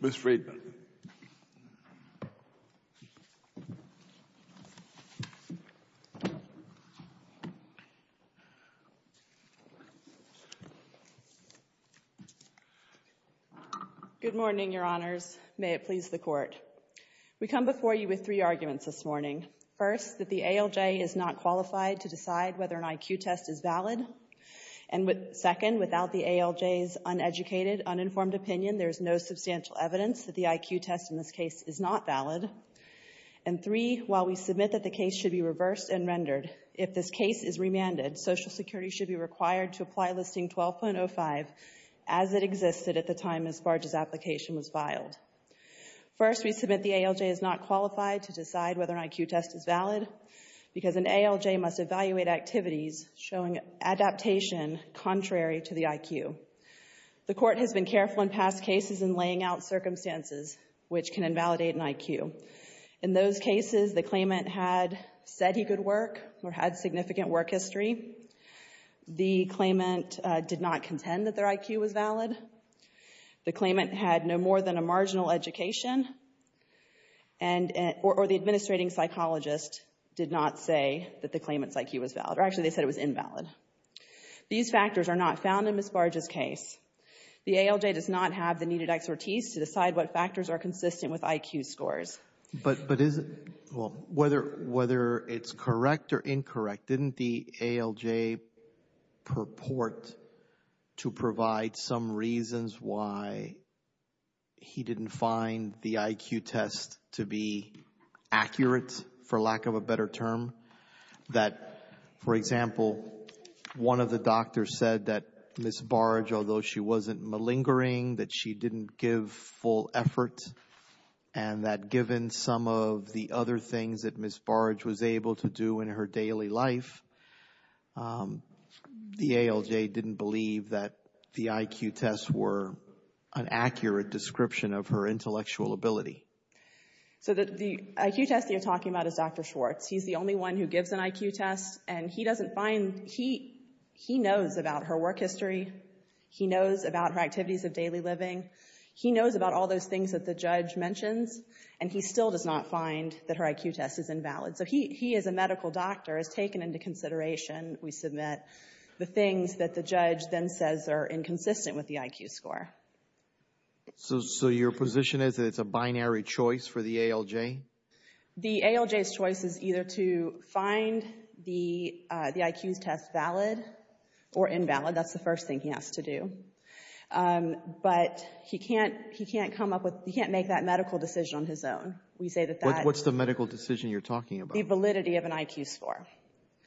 Ms. Friedman Good morning, Your Honors. May it please the Court. We come before you with three arguments this morning. First, that the ALJ is not qualified to decide whether an IQ test is valid. And second, without the ALJ's uneducated, uninformed opinion, there is no substantial evidence that the IQ test in this case is not valid. And three, while we submit that the case should be reversed and rendered, if this case is remanded, Social Security should be required to apply Listing 12.05 as it existed at the time Ms. Bardge's application was filed. First, we submit the ALJ is not qualified to decide whether an IQ test is valid because an ALJ must evaluate activities showing adaptation contrary to the IQ. The Court has been careful in past cases in laying out circumstances which can invalidate an IQ. In those cases, the claimant had said he could work or had significant work history. The claimant did not contend that their IQ was valid. The claimant had no more than a marginal education. Or the administrating psychologist did not say that the claimant's IQ was valid. Actually, they said it was invalid. These factors are not found in Ms. Bardge's case. The ALJ does not have the needed expertise to decide what factors are consistent with IQ scores. But whether it's correct or incorrect, didn't the ALJ purport to provide some reasons why he didn't find the IQ test to be accurate, for lack of a better term? That, for example, one of the doctors said that Ms. Bardge, although she wasn't malingering, that she didn't give full effort. And that given some of the other things that Ms. Bardge was able to do in her daily life, the ALJ didn't believe that the IQ tests were an accurate description of her intellectual ability. So the IQ test you're talking about is Dr. Schwartz. He's the only one who gives an IQ test. And he doesn't find, he knows about her work history. He knows about her activities of daily living. He knows about all those things that the judge mentions. And he still does not find that her IQ test is invalid. So he, as a medical doctor, has taken into consideration, we submit, the things that the judge then says are inconsistent with the IQ score. So your position is that it's a binary choice for the ALJ? The ALJ's choice is either to find the IQ test valid or invalid. That's the first thing he has to do. But he can't come up with, he can't make that medical decision on his own. We say that that... What's the medical decision you're talking about? The validity of an IQ score.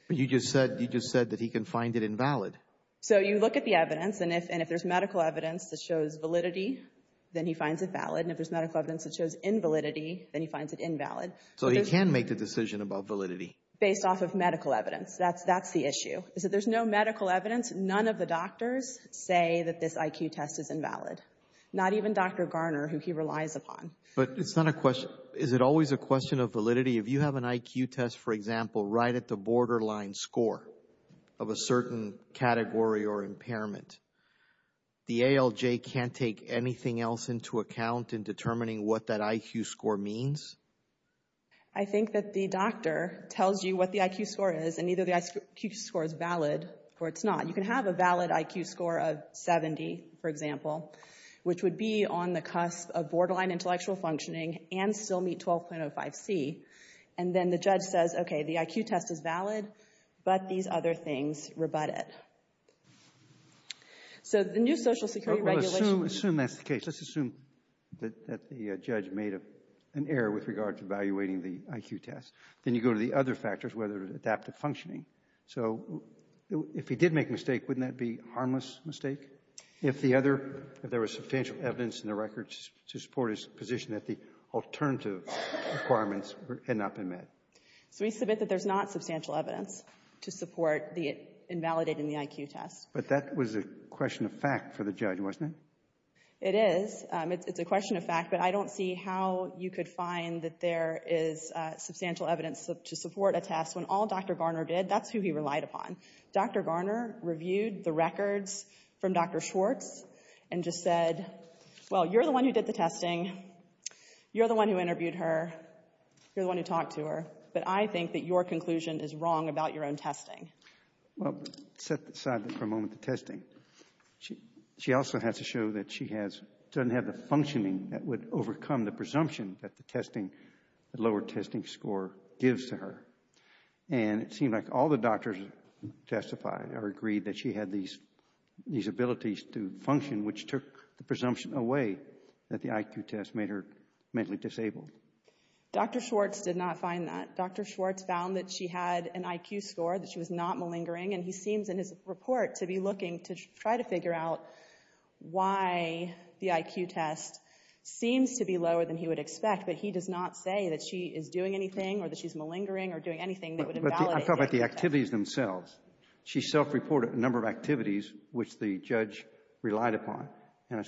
But you just said that he can find it invalid. So you look at the evidence, and if there's medical evidence that shows validity, then he finds it valid. And if there's medical evidence that shows invalidity, then he finds it invalid. So he can make the decision about validity? Based off of medical evidence. That's the issue, is that there's no medical evidence. None of the doctors say that this IQ test is invalid. Not even Dr. Garner, who he relies upon. But it's not a question, is it always a question of validity? If you have an IQ test, for example, right at the borderline score of a certain category or impairment, the ALJ can't take anything else into account in determining what that IQ score means? I think that the doctor tells you what the IQ score is, and either the IQ score is valid or it's not. You can have a valid IQ score of 70, for example, which would be on the cusp of borderline intellectual functioning, and still meet 12.05c. And then the judge says, okay, the IQ test is valid, but these other things rebut it. So the new social security regulation... Assume that's the case. Let's assume that the judge made an error with regard to evaluating the IQ test. Then you go to the other factors, whether it's adaptive functioning. So if he did make a mistake, wouldn't that be a harmless mistake? If there was substantial evidence in the records to support his position that the alternative requirements had not been met? So we submit that there's not substantial evidence to support invalidating the IQ test. But that was a question of fact for the judge, wasn't it? It is. It's a question of fact, but I don't see how you could find that there is substantial evidence to support a test. When all Dr. Garner did, that's who he relied upon. Dr. Garner reviewed the records from Dr. Schwartz and just said, well, you're the one who did the testing. You're the one who interviewed her. You're the one who talked to her. But I think that your conclusion is wrong about your own testing. Well, set aside for a moment the testing. She also has to show that she doesn't have the functioning that would overcome the presumption that the testing, the lower testing score gives to her. And it seemed like all the doctors testified or agreed that she had these abilities to function, which took the presumption away that the IQ test made her mentally disabled. Dr. Schwartz did not find that. Dr. Schwartz found that she had an IQ score, that she was not malingering. And he seems in his report to be looking to try to figure out why the IQ test seems to be lower than he would expect. But he does not say that she is doing anything or that she's malingering or doing anything that would invalidate the IQ test. But I'm talking about the activities themselves. She self-reported a number of activities which the judge relied upon. And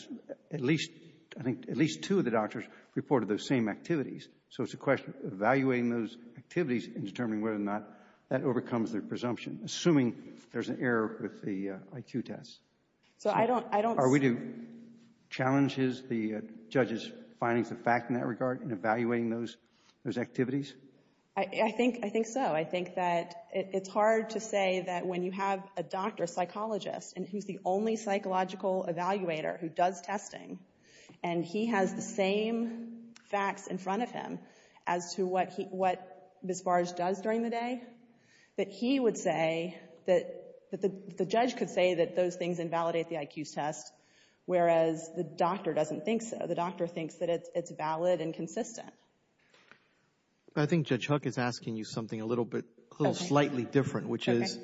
at least, I think, at least two of the doctors reported those same activities. So it's a question of evaluating those activities and determining whether or not that overcomes their presumption, assuming there's an error with the IQ test. So I don't, I don't... Are we to challenge the judge's findings of fact in that regard in evaluating those activities? I think, I think so. I think that it's hard to say that when you have a doctor, a psychologist, and who's the only psychological evaluator who does testing, and he has the same facts in front of him as to what he, what Ms. Barge does during the day, that he would say that the judge could say that those things invalidate the IQ test, whereas the doctor doesn't think so. The doctor thinks that it's valid and consistent. But I think Judge Hook is asking you something a little bit, a little slightly different, which is,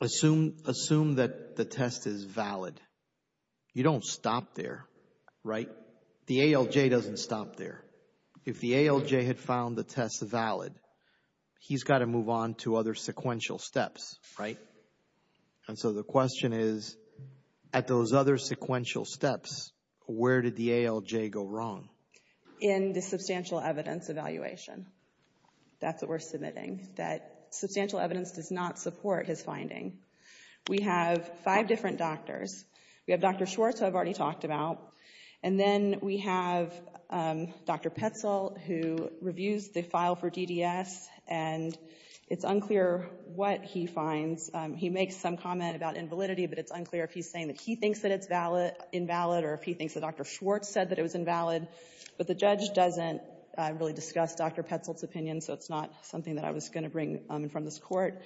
assume, assume that the test is valid. You don't stop there, right? The ALJ doesn't stop there. If the ALJ had found the test valid, he's got to move on to other sequential steps, right? And so the question is, at those other sequential steps, where did the ALJ go wrong? In the substantial evidence evaluation. That's what we're submitting, that substantial evidence does not support his finding. We have five different doctors. We have Dr. Schwartz, who I've already talked about. And then we have Dr. Petzl, who reviews the file for DDS, and it's unclear what he finds. He makes some comment about invalidity, but it's unclear if he's saying that he thinks that it's valid, invalid, or if he thinks that Dr. Schwartz said that it was invalid. But the judge doesn't really discuss Dr. Petzl's opinion, so it's not something that I was going to bring in front of this Court.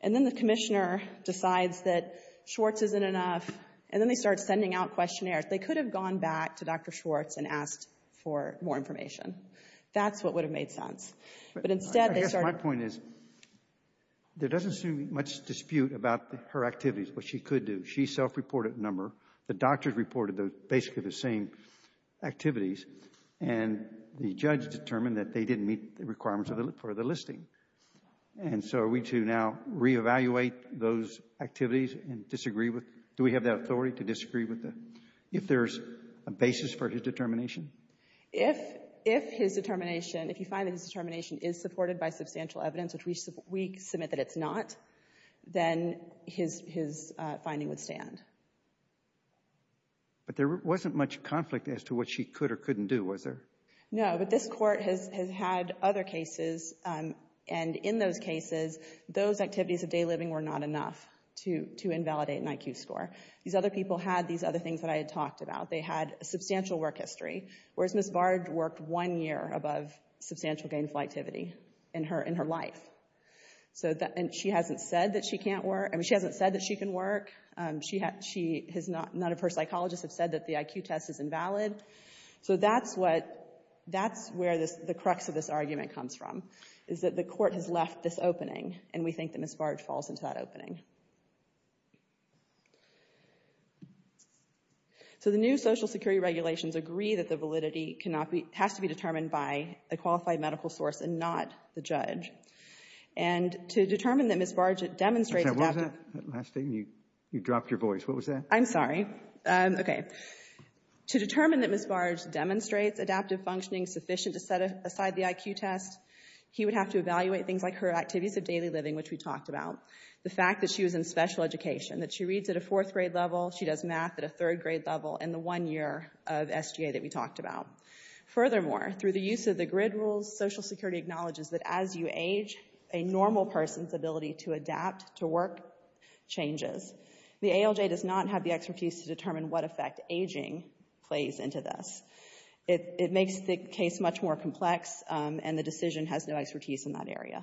And then the Commissioner decides that Schwartz isn't enough, and then they start sending out questionnaires. They could have gone back to Dr. Schwartz and asked for more information. That's what would have made sense. But instead, they start to ---- Robertson, I guess my point is, there doesn't seem to be much dispute about her activities, what she could do. She self-reported a number. The doctors reported basically the same activities, and the judge determined that they didn't meet the requirements for the listing. And so are we to now re-evaluate those activities and disagree with them? Do we have that authority to disagree with them if there's a basis for his determination? If his determination, if you find that his determination is supported by substantial evidence, which we submit that it's not, then his finding would stand. But there wasn't much conflict as to what she could or couldn't do, was there? No, but this Court has had other cases, and in those cases, those activities of day living were not enough to invalidate an IQ score. These other people had these other things that I had talked about. They had a substantial work history, whereas Ms. Bard worked one year above substantial gainful activity in her life. And she hasn't said that she can't work. I mean, she hasn't said that she can work. She has not, none of her psychologists have said that the IQ test is invalid. So that's what, that's where the crux of this argument comes from, is that the Court has left this opening, and we think that Ms. Bard falls into that opening. So the new Social Security regulations agree that the validity cannot be, has to be determined by a qualified medical source and not the judge. And to determine that Ms. Bard demonstrated that— You dropped your voice. What was that? I'm sorry. Okay. To determine that Ms. Bard demonstrates adaptive functioning sufficient to set aside the IQ test, he would have to evaluate things like her activities of daily living, which we talked about, the fact that she was in special education, that she reads at a fourth grade level, she does math at a third grade level, and the one year of SGA that we talked about. Furthermore, through the use of the GRID rules, Social Security acknowledges that as you age, a normal person's ability to adapt to work changes. The ALJ does not have the expertise to determine what effect aging plays into this. It makes the case much more complex, and the decision has no expertise in that area.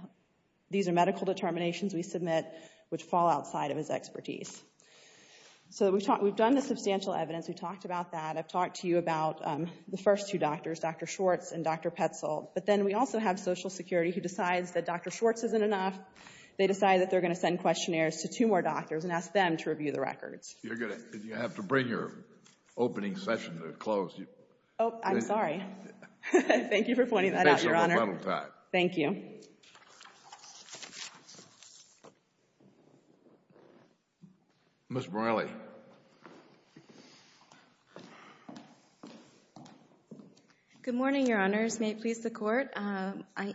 These are medical determinations we submit which fall outside of his expertise. So we've talked, we've done the substantial evidence. We talked about that. I've talked to you about the first two doctors, Dr. Schwartz and Dr. Petzl. But then we also have Social Security who decides that Dr. Schwartz isn't enough. They decide that they're going to send questionnaires to two more doctors and ask them to review the records. You're going to, you have to bring your opening session to a close. Oh, I'm sorry. Thank you for pointing that out, Your Honor. Thank you. Ms. Morelli. Good morning, Your Honors. May it please the Court.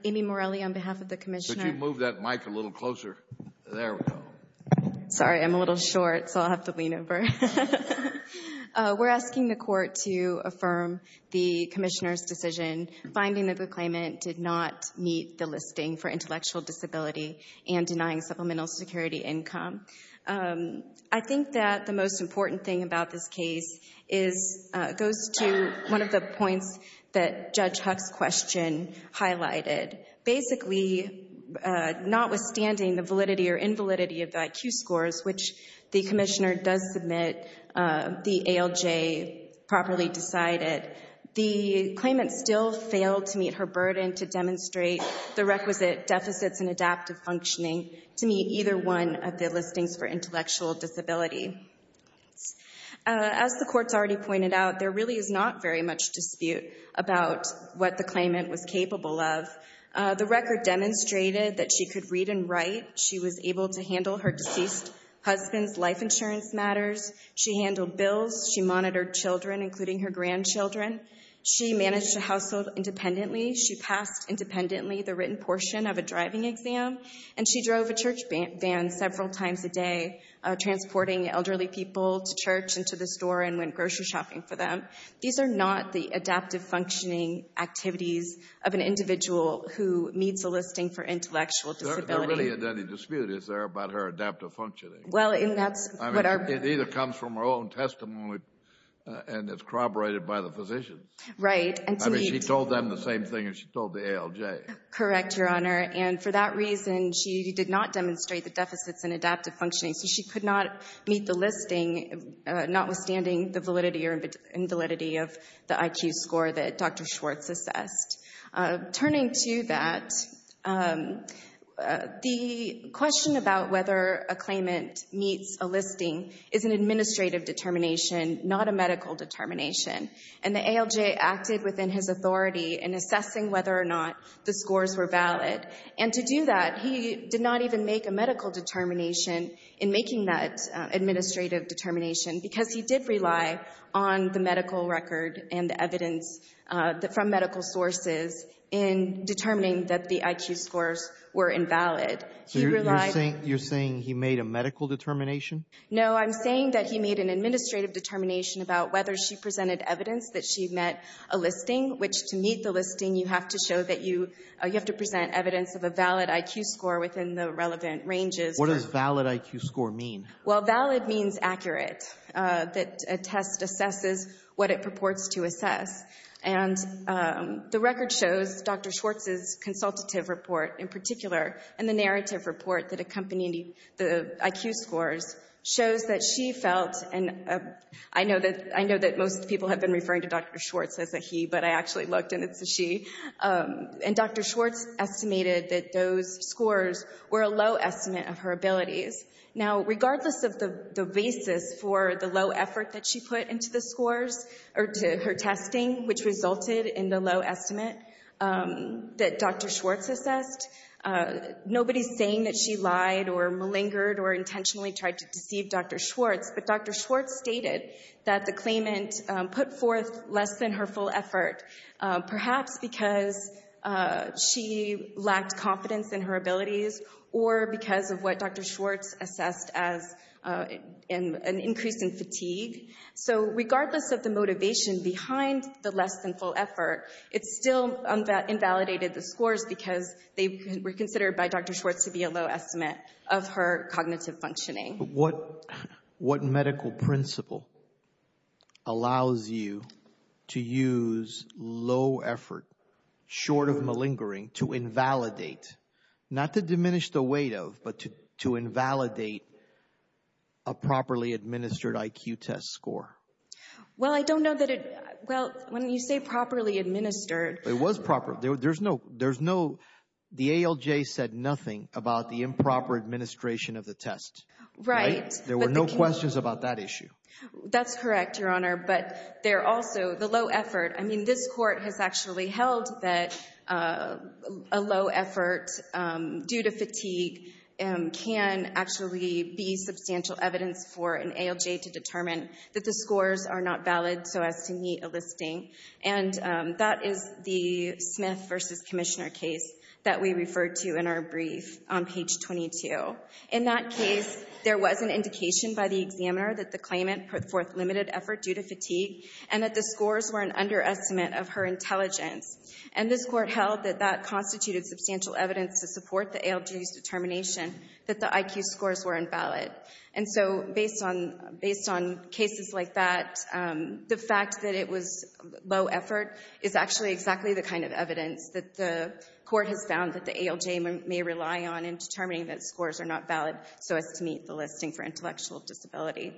Amy Morelli on behalf of the Commissioner. Could you move that mic a little closer? There we go. Sorry, I'm a little short, so I'll have to lean over. We're asking the Court to affirm the Commissioner's decision. Finding that the claimant did not meet the listing for intellectual disability I think that the Court's decision is a good one. The most important thing about this case goes to one of the points that Judge Huck's question highlighted. Basically, notwithstanding the validity or invalidity of the IQ scores, which the Commissioner does submit the ALJ properly decided, the claimant still failed to meet her burden to demonstrate the requisite deficits in adaptive functioning to meet either one of the listings for intellectual disability. As the Court's already pointed out, there really is not very much dispute about what the claimant was capable of. The record demonstrated that she could read and write. She was able to handle her deceased husband's life insurance matters. She handled bills. She monitored children, including her grandchildren. She managed a household independently. She passed independently the written portion of a driving exam. And she drove a church van several times a day, transporting elderly people to church and to the store and went grocery shopping for them. These are not the adaptive functioning activities of an individual who meets a listing for intellectual disability. There really isn't any dispute, is there, about her adaptive functioning? Well, and that's what our— It either comes from her own testimony and it's corroborated by the physician. Right, and to meet— I mean, she told them the same thing as she told the ALJ. Correct, Your Honor. And for that reason, she did not demonstrate the deficits in adaptive functioning, so she could not meet the listing, notwithstanding the validity or invalidity of the IQ score that Dr. Schwartz assessed. Turning to that, the question about whether a claimant meets a listing is an administrative determination, not a medical determination. And the ALJ acted within his authority in assessing whether or not the scores were valid. And to do that, he did not even make a medical determination in making that administrative determination, because he did rely on the medical record and the evidence from medical sources in determining that the IQ scores were invalid. So you're saying he made a medical determination? No, I'm saying that he made an administrative determination about whether she presented evidence that she met a listing, which to meet the listing, you have to present evidence of a valid IQ score within the relevant ranges. What does valid IQ score mean? Well, valid means accurate, that a test assesses what it purports to assess. And the record shows, Dr. Schwartz's consultative report in particular, and the narrative report that accompanied the IQ scores, shows that she felt—and I know that most people have been referring to Dr. Schwartz as a he, but I actually looked and it's a she—and Dr. Schwartz estimated that those scores were a low estimate of her abilities. Now, regardless of the basis for the low effort that she put into the scores or to her testing, which resulted in the low estimate that Dr. Schwartz assessed, nobody's saying that she lied or malingered or intentionally tried to deceive Dr. Schwartz, but Dr. Schwartz stated that the claimant put forth less than her full effort, perhaps because she lacked confidence in her abilities or because of what Dr. Schwartz assessed as an increase in fatigue. So regardless of the motivation behind the less than full effort, it still invalidated the scores because they were considered by Dr. Schwartz to be a low estimate of her cognitive functioning. What medical principle allows you to use low effort short of malingering to invalidate, not to diminish the weight of, but to invalidate a properly administered IQ test score? Well, I don't know that it—well, when you say properly administered— It was proper. There's no—the ALJ said nothing about the improper administration of the test. Right. There were no questions about that issue. That's correct, Your Honor, but there also—the low effort—I mean, this court has actually held that a low effort due to fatigue can actually be substantial evidence for an ALJ to determine that the scores are not valid so as to meet a listing, and that is the Smith v. Commissioner case that we referred to in our brief on page 22. In that case, there was an indication by the examiner that the claimant put forth limited effort due to fatigue and that the scores were an underestimate of her intelligence, and this court held that that constituted substantial evidence to support the ALJ's determination that the IQ scores were invalid. And so based on cases like that, the fact that it was low effort is actually exactly the kind of evidence that the court has found that the ALJ may rely on in determining that scores are not valid so as to meet the listing for intellectual disability.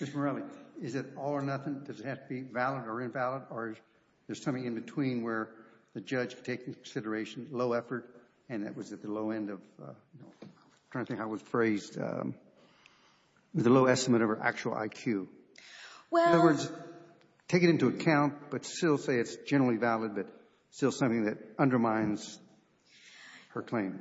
Ms. Morelli, is it all or nothing? Does it have to be valid or invalid, or is there something in between where the judge takes into consideration low effort and that was at the low end of—I'm trying to think how it was phrased—the low estimate of her actual IQ? Well— Take it into account, but still say it's generally valid, but still something that undermines her claim.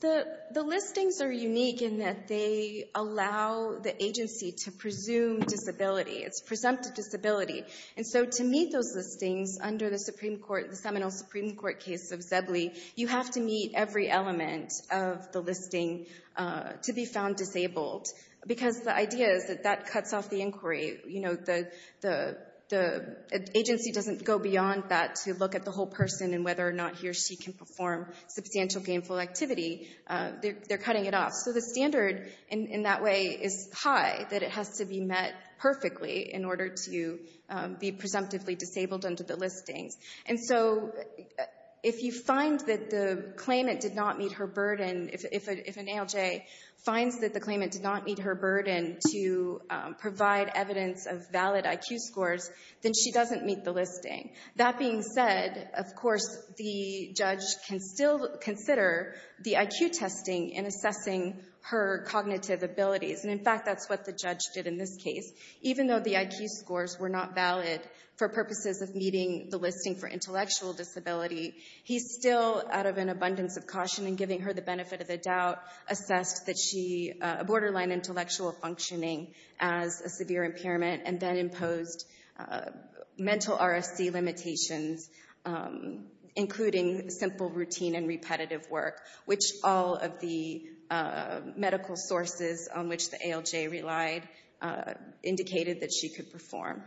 The listings are unique in that they allow the agency to presume disability. It's presumptive disability. And so to meet those listings under the Seminole Supreme Court case of Zebley, you have to meet every element of the listing to be found disabled, because the idea is that that cuts off the inquiry. You know, the agency doesn't go beyond that to look at the whole person and whether or not he or she can perform substantial gainful activity. They're cutting it off. So the standard in that way is high, that it has to be met perfectly in order to be presumptively disabled under the listings. And so if you find that the claimant did not meet her burden—if an ALJ finds that the evidence of valid IQ scores, then she doesn't meet the listing. That being said, of course, the judge can still consider the IQ testing in assessing her cognitive abilities. And in fact, that's what the judge did in this case. Even though the IQ scores were not valid for purposes of meeting the listing for intellectual disability, he still, out of an abundance of caution and giving her the benefit of the doubt, assessed a severe impairment and then imposed mental RFC limitations, including simple routine and repetitive work, which all of the medical sources on which the ALJ relied indicated that she could perform.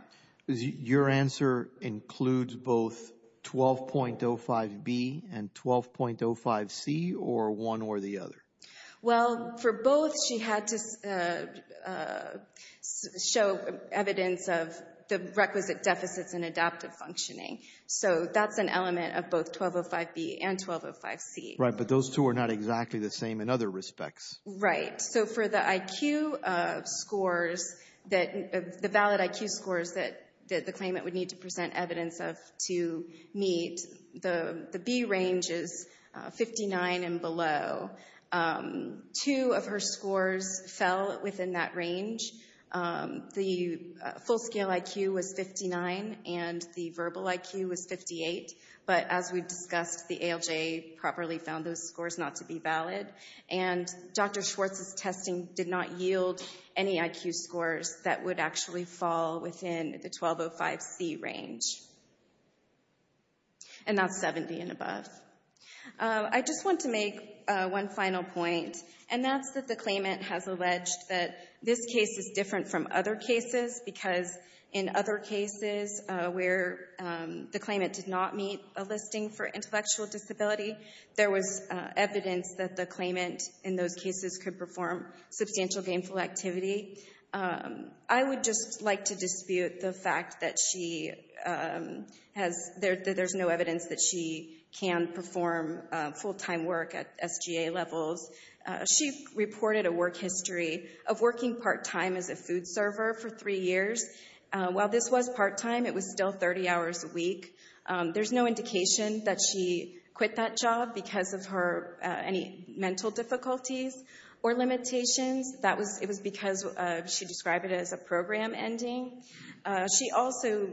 Your answer includes both 12.05B and 12.05C, or one or the other? Well, for both, she had to show evidence of the requisite deficits in adaptive functioning. So that's an element of both 12.05B and 12.05C. Right. But those two are not exactly the same in other respects. Right. So for the IQ scores, the valid IQ scores that the claimant would need to present evidence to meet, the B range is 59 and below. Two of her scores fell within that range. The full-scale IQ was 59 and the verbal IQ was 58. But as we discussed, the ALJ properly found those scores not to be valid. And Dr. Schwartz's testing did not yield any IQ scores that would actually fall within the 12.05C range. And not 70 and above. I just want to make one final point, and that's that the claimant has alleged that this case is different from other cases because in other cases where the claimant did not meet a listing for intellectual disability, there was evidence that the claimant in those cases could perform substantial gainful activity. I would just like to dispute the fact that there's no evidence that she can perform full-time work at SGA levels. She reported a work history of working part-time as a food server for three years. While this was part-time, it was still 30 hours a week. There's no indication that she quit that job because of any mental difficulties or limitations. It was because she described it as a program ending. She also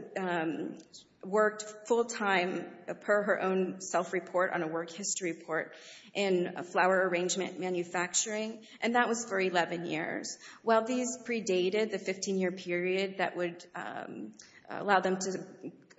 worked full-time per her own self-report on a work history report in flower arrangement manufacturing, and that was for 11 years. While these predated the 15-year period that would allow them to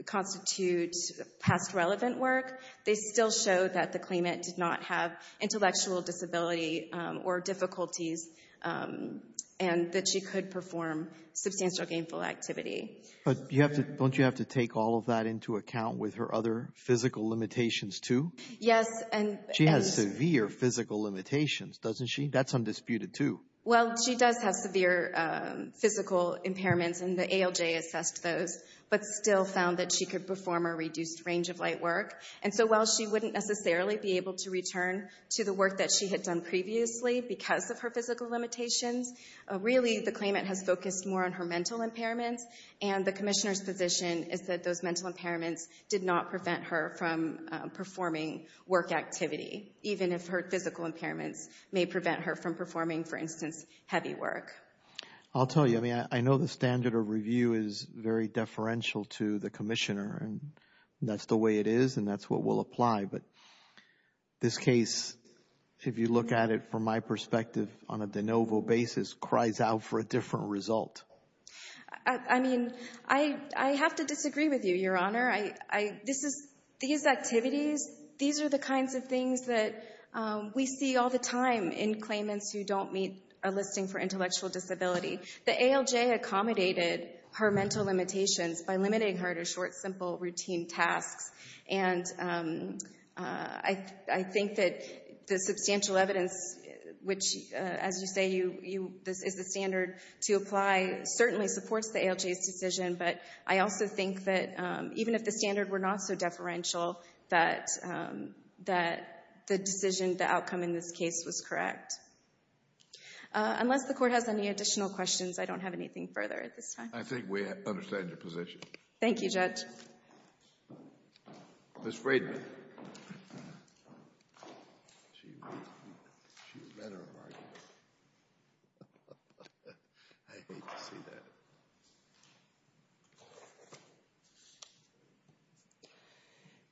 constitute past relevant work, they still showed that the claimant did not have intellectual disability or difficulties and that she could perform substantial gainful activity. But don't you have to take all of that into account with her other physical limitations, too? Yes. And she has severe physical limitations, doesn't she? That's undisputed, too. Well, she does have severe physical impairments, and the ALJ assessed those, but still found that she could perform a reduced range of light work. And so while she wouldn't necessarily be able to return to the work that she had done previously because of her physical limitations, really the claimant has focused more on her mental impairments, and the Commissioner's position is that those mental impairments did not prevent her from performing work activity, even if her physical impairments may prevent her from performing, for instance, heavy work. I'll tell you, I mean, I know the standard of review is very deferential to the Commissioner, and that's the way it is, and that's what will apply. But this case, if you look at it from my perspective on a de novo basis, cries out for a different result. I mean, I have to disagree with you, Your Honor. These activities, these are the kinds of things that we see all the time in claimants who don't meet a listing for intellectual disability. The ALJ accommodated her mental limitations by limiting her to short, simple, routine tasks, and I think that the substantial evidence, which, as you say, is the standard to apply, certainly supports the ALJ's decision, but I also think that even if the standard were not so deferential, that the decision, the outcome in this case was correct. Unless the Court has any additional questions, I don't have anything further at this time. I think we understand your position. Thank you, Judge. Ms. Braden.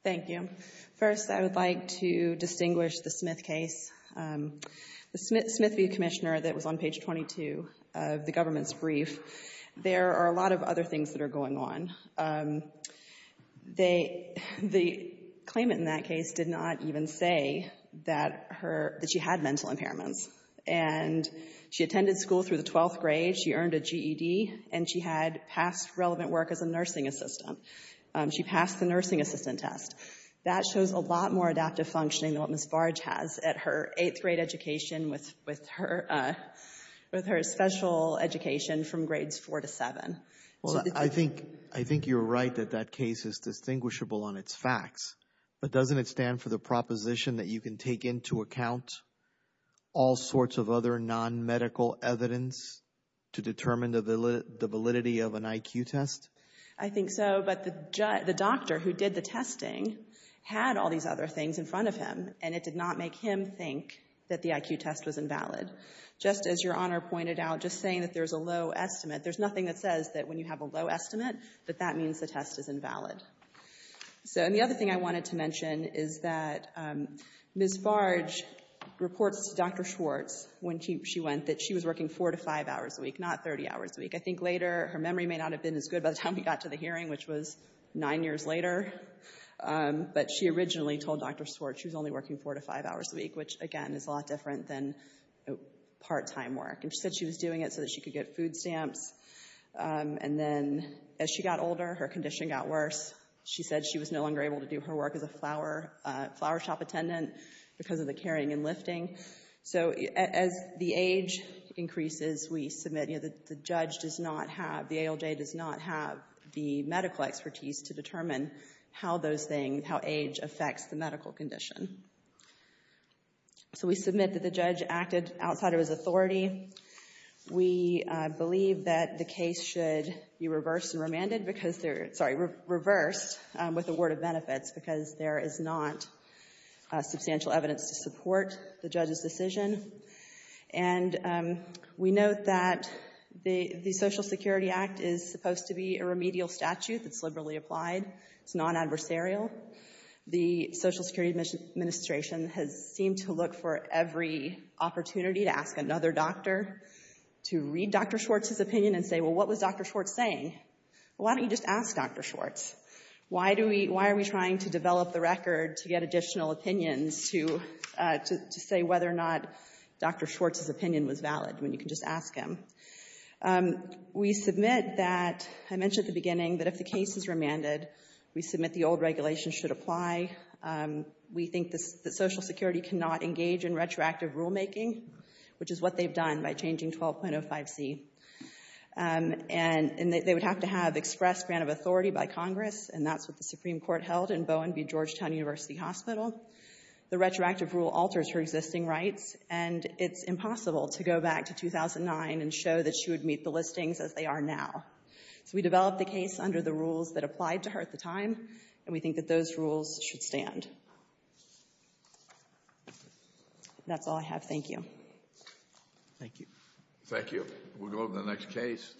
Thank you. First, I would like to distinguish the Smith case. The Smith v. Commissioner that was on page 22 of the government's brief, there are a lot of other things that are going on. The claimant in that case did not even say that her, that she had mental impairments, and she attended school through the 12th grade, she earned a GED, and she had passed relevant work as a nursing assistant. She passed the nursing assistant test. That shows a lot more adaptive functioning than what Ms. Barge has at her 8th grade education with her special education from grades 4 to 7. Well, I think you're right that that case is distinguishable on its facts, but doesn't it stand for the proposition that you can take into account all sorts of other non-medical evidence to determine the validity of an IQ test? I think so, but the doctor who did the testing had all these other things in front of him, and it did not make him think that the IQ test was invalid. Just as Your Honor pointed out, just saying that there's a low estimate, there's nothing that says that when you have a low estimate that that means the test is invalid. So, and the other thing I wanted to mention is that Ms. Barge reports to Dr. Schwartz when she went that she was working 4 to 5 hours a week, not 30 hours a week. I think later, her memory may not have been as good by the time we got to the hearing, which was 9 years later, but she originally told Dr. Schwartz she was only working 4 to 5 hours a week, which, again, is a lot different than part-time work, and she said she was doing it so that she could get food stamps, and then as she got older, her condition got worse. She said she was no longer able to do her work as a flower shop attendant because of the carrying and lifting. So, as the age increases, we submit, you know, the judge does not have, the ALJ does not have the medical expertise to determine how those things, how age affects the medical condition. So, we submit that the judge acted outside of his authority. We believe that the case should be reversed and remanded because they're, sorry, reversed with a word of benefits because there is not substantial evidence to support the judge's decision, and we note that the Social Security Act is supposed to be a remedial statute that's liberally applied. It's non-adversarial. The Social Security Administration has seemed to look for every opportunity to ask another doctor to read Dr. Schwartz's opinion and say, well, what was Dr. Schwartz saying? Why don't you just ask Dr. Schwartz? Why do we, why are we trying to develop the record to get additional opinions to say whether or not Dr. Schwartz's opinion was valid when you can just ask him? We submit that, I mentioned at the beginning, that if the case is remanded, we submit the old regulations should apply. We think that Social Security cannot engage in retroactive rulemaking, which is what they've done by changing 12.05c, and they would have to have expressed grant of authority by Congress, and that's what the Supreme Court held in Bowen v. Georgetown University Hospital. The retroactive rule alters her existing rights, and it's impossible to go back to 2009 and show that she would meet the listings as they are now. So we developed the case under the rules that applied to her at the time, and we think that those rules should stand. That's all I have. Thank you. Thank you. Thank you. We'll go to the next case.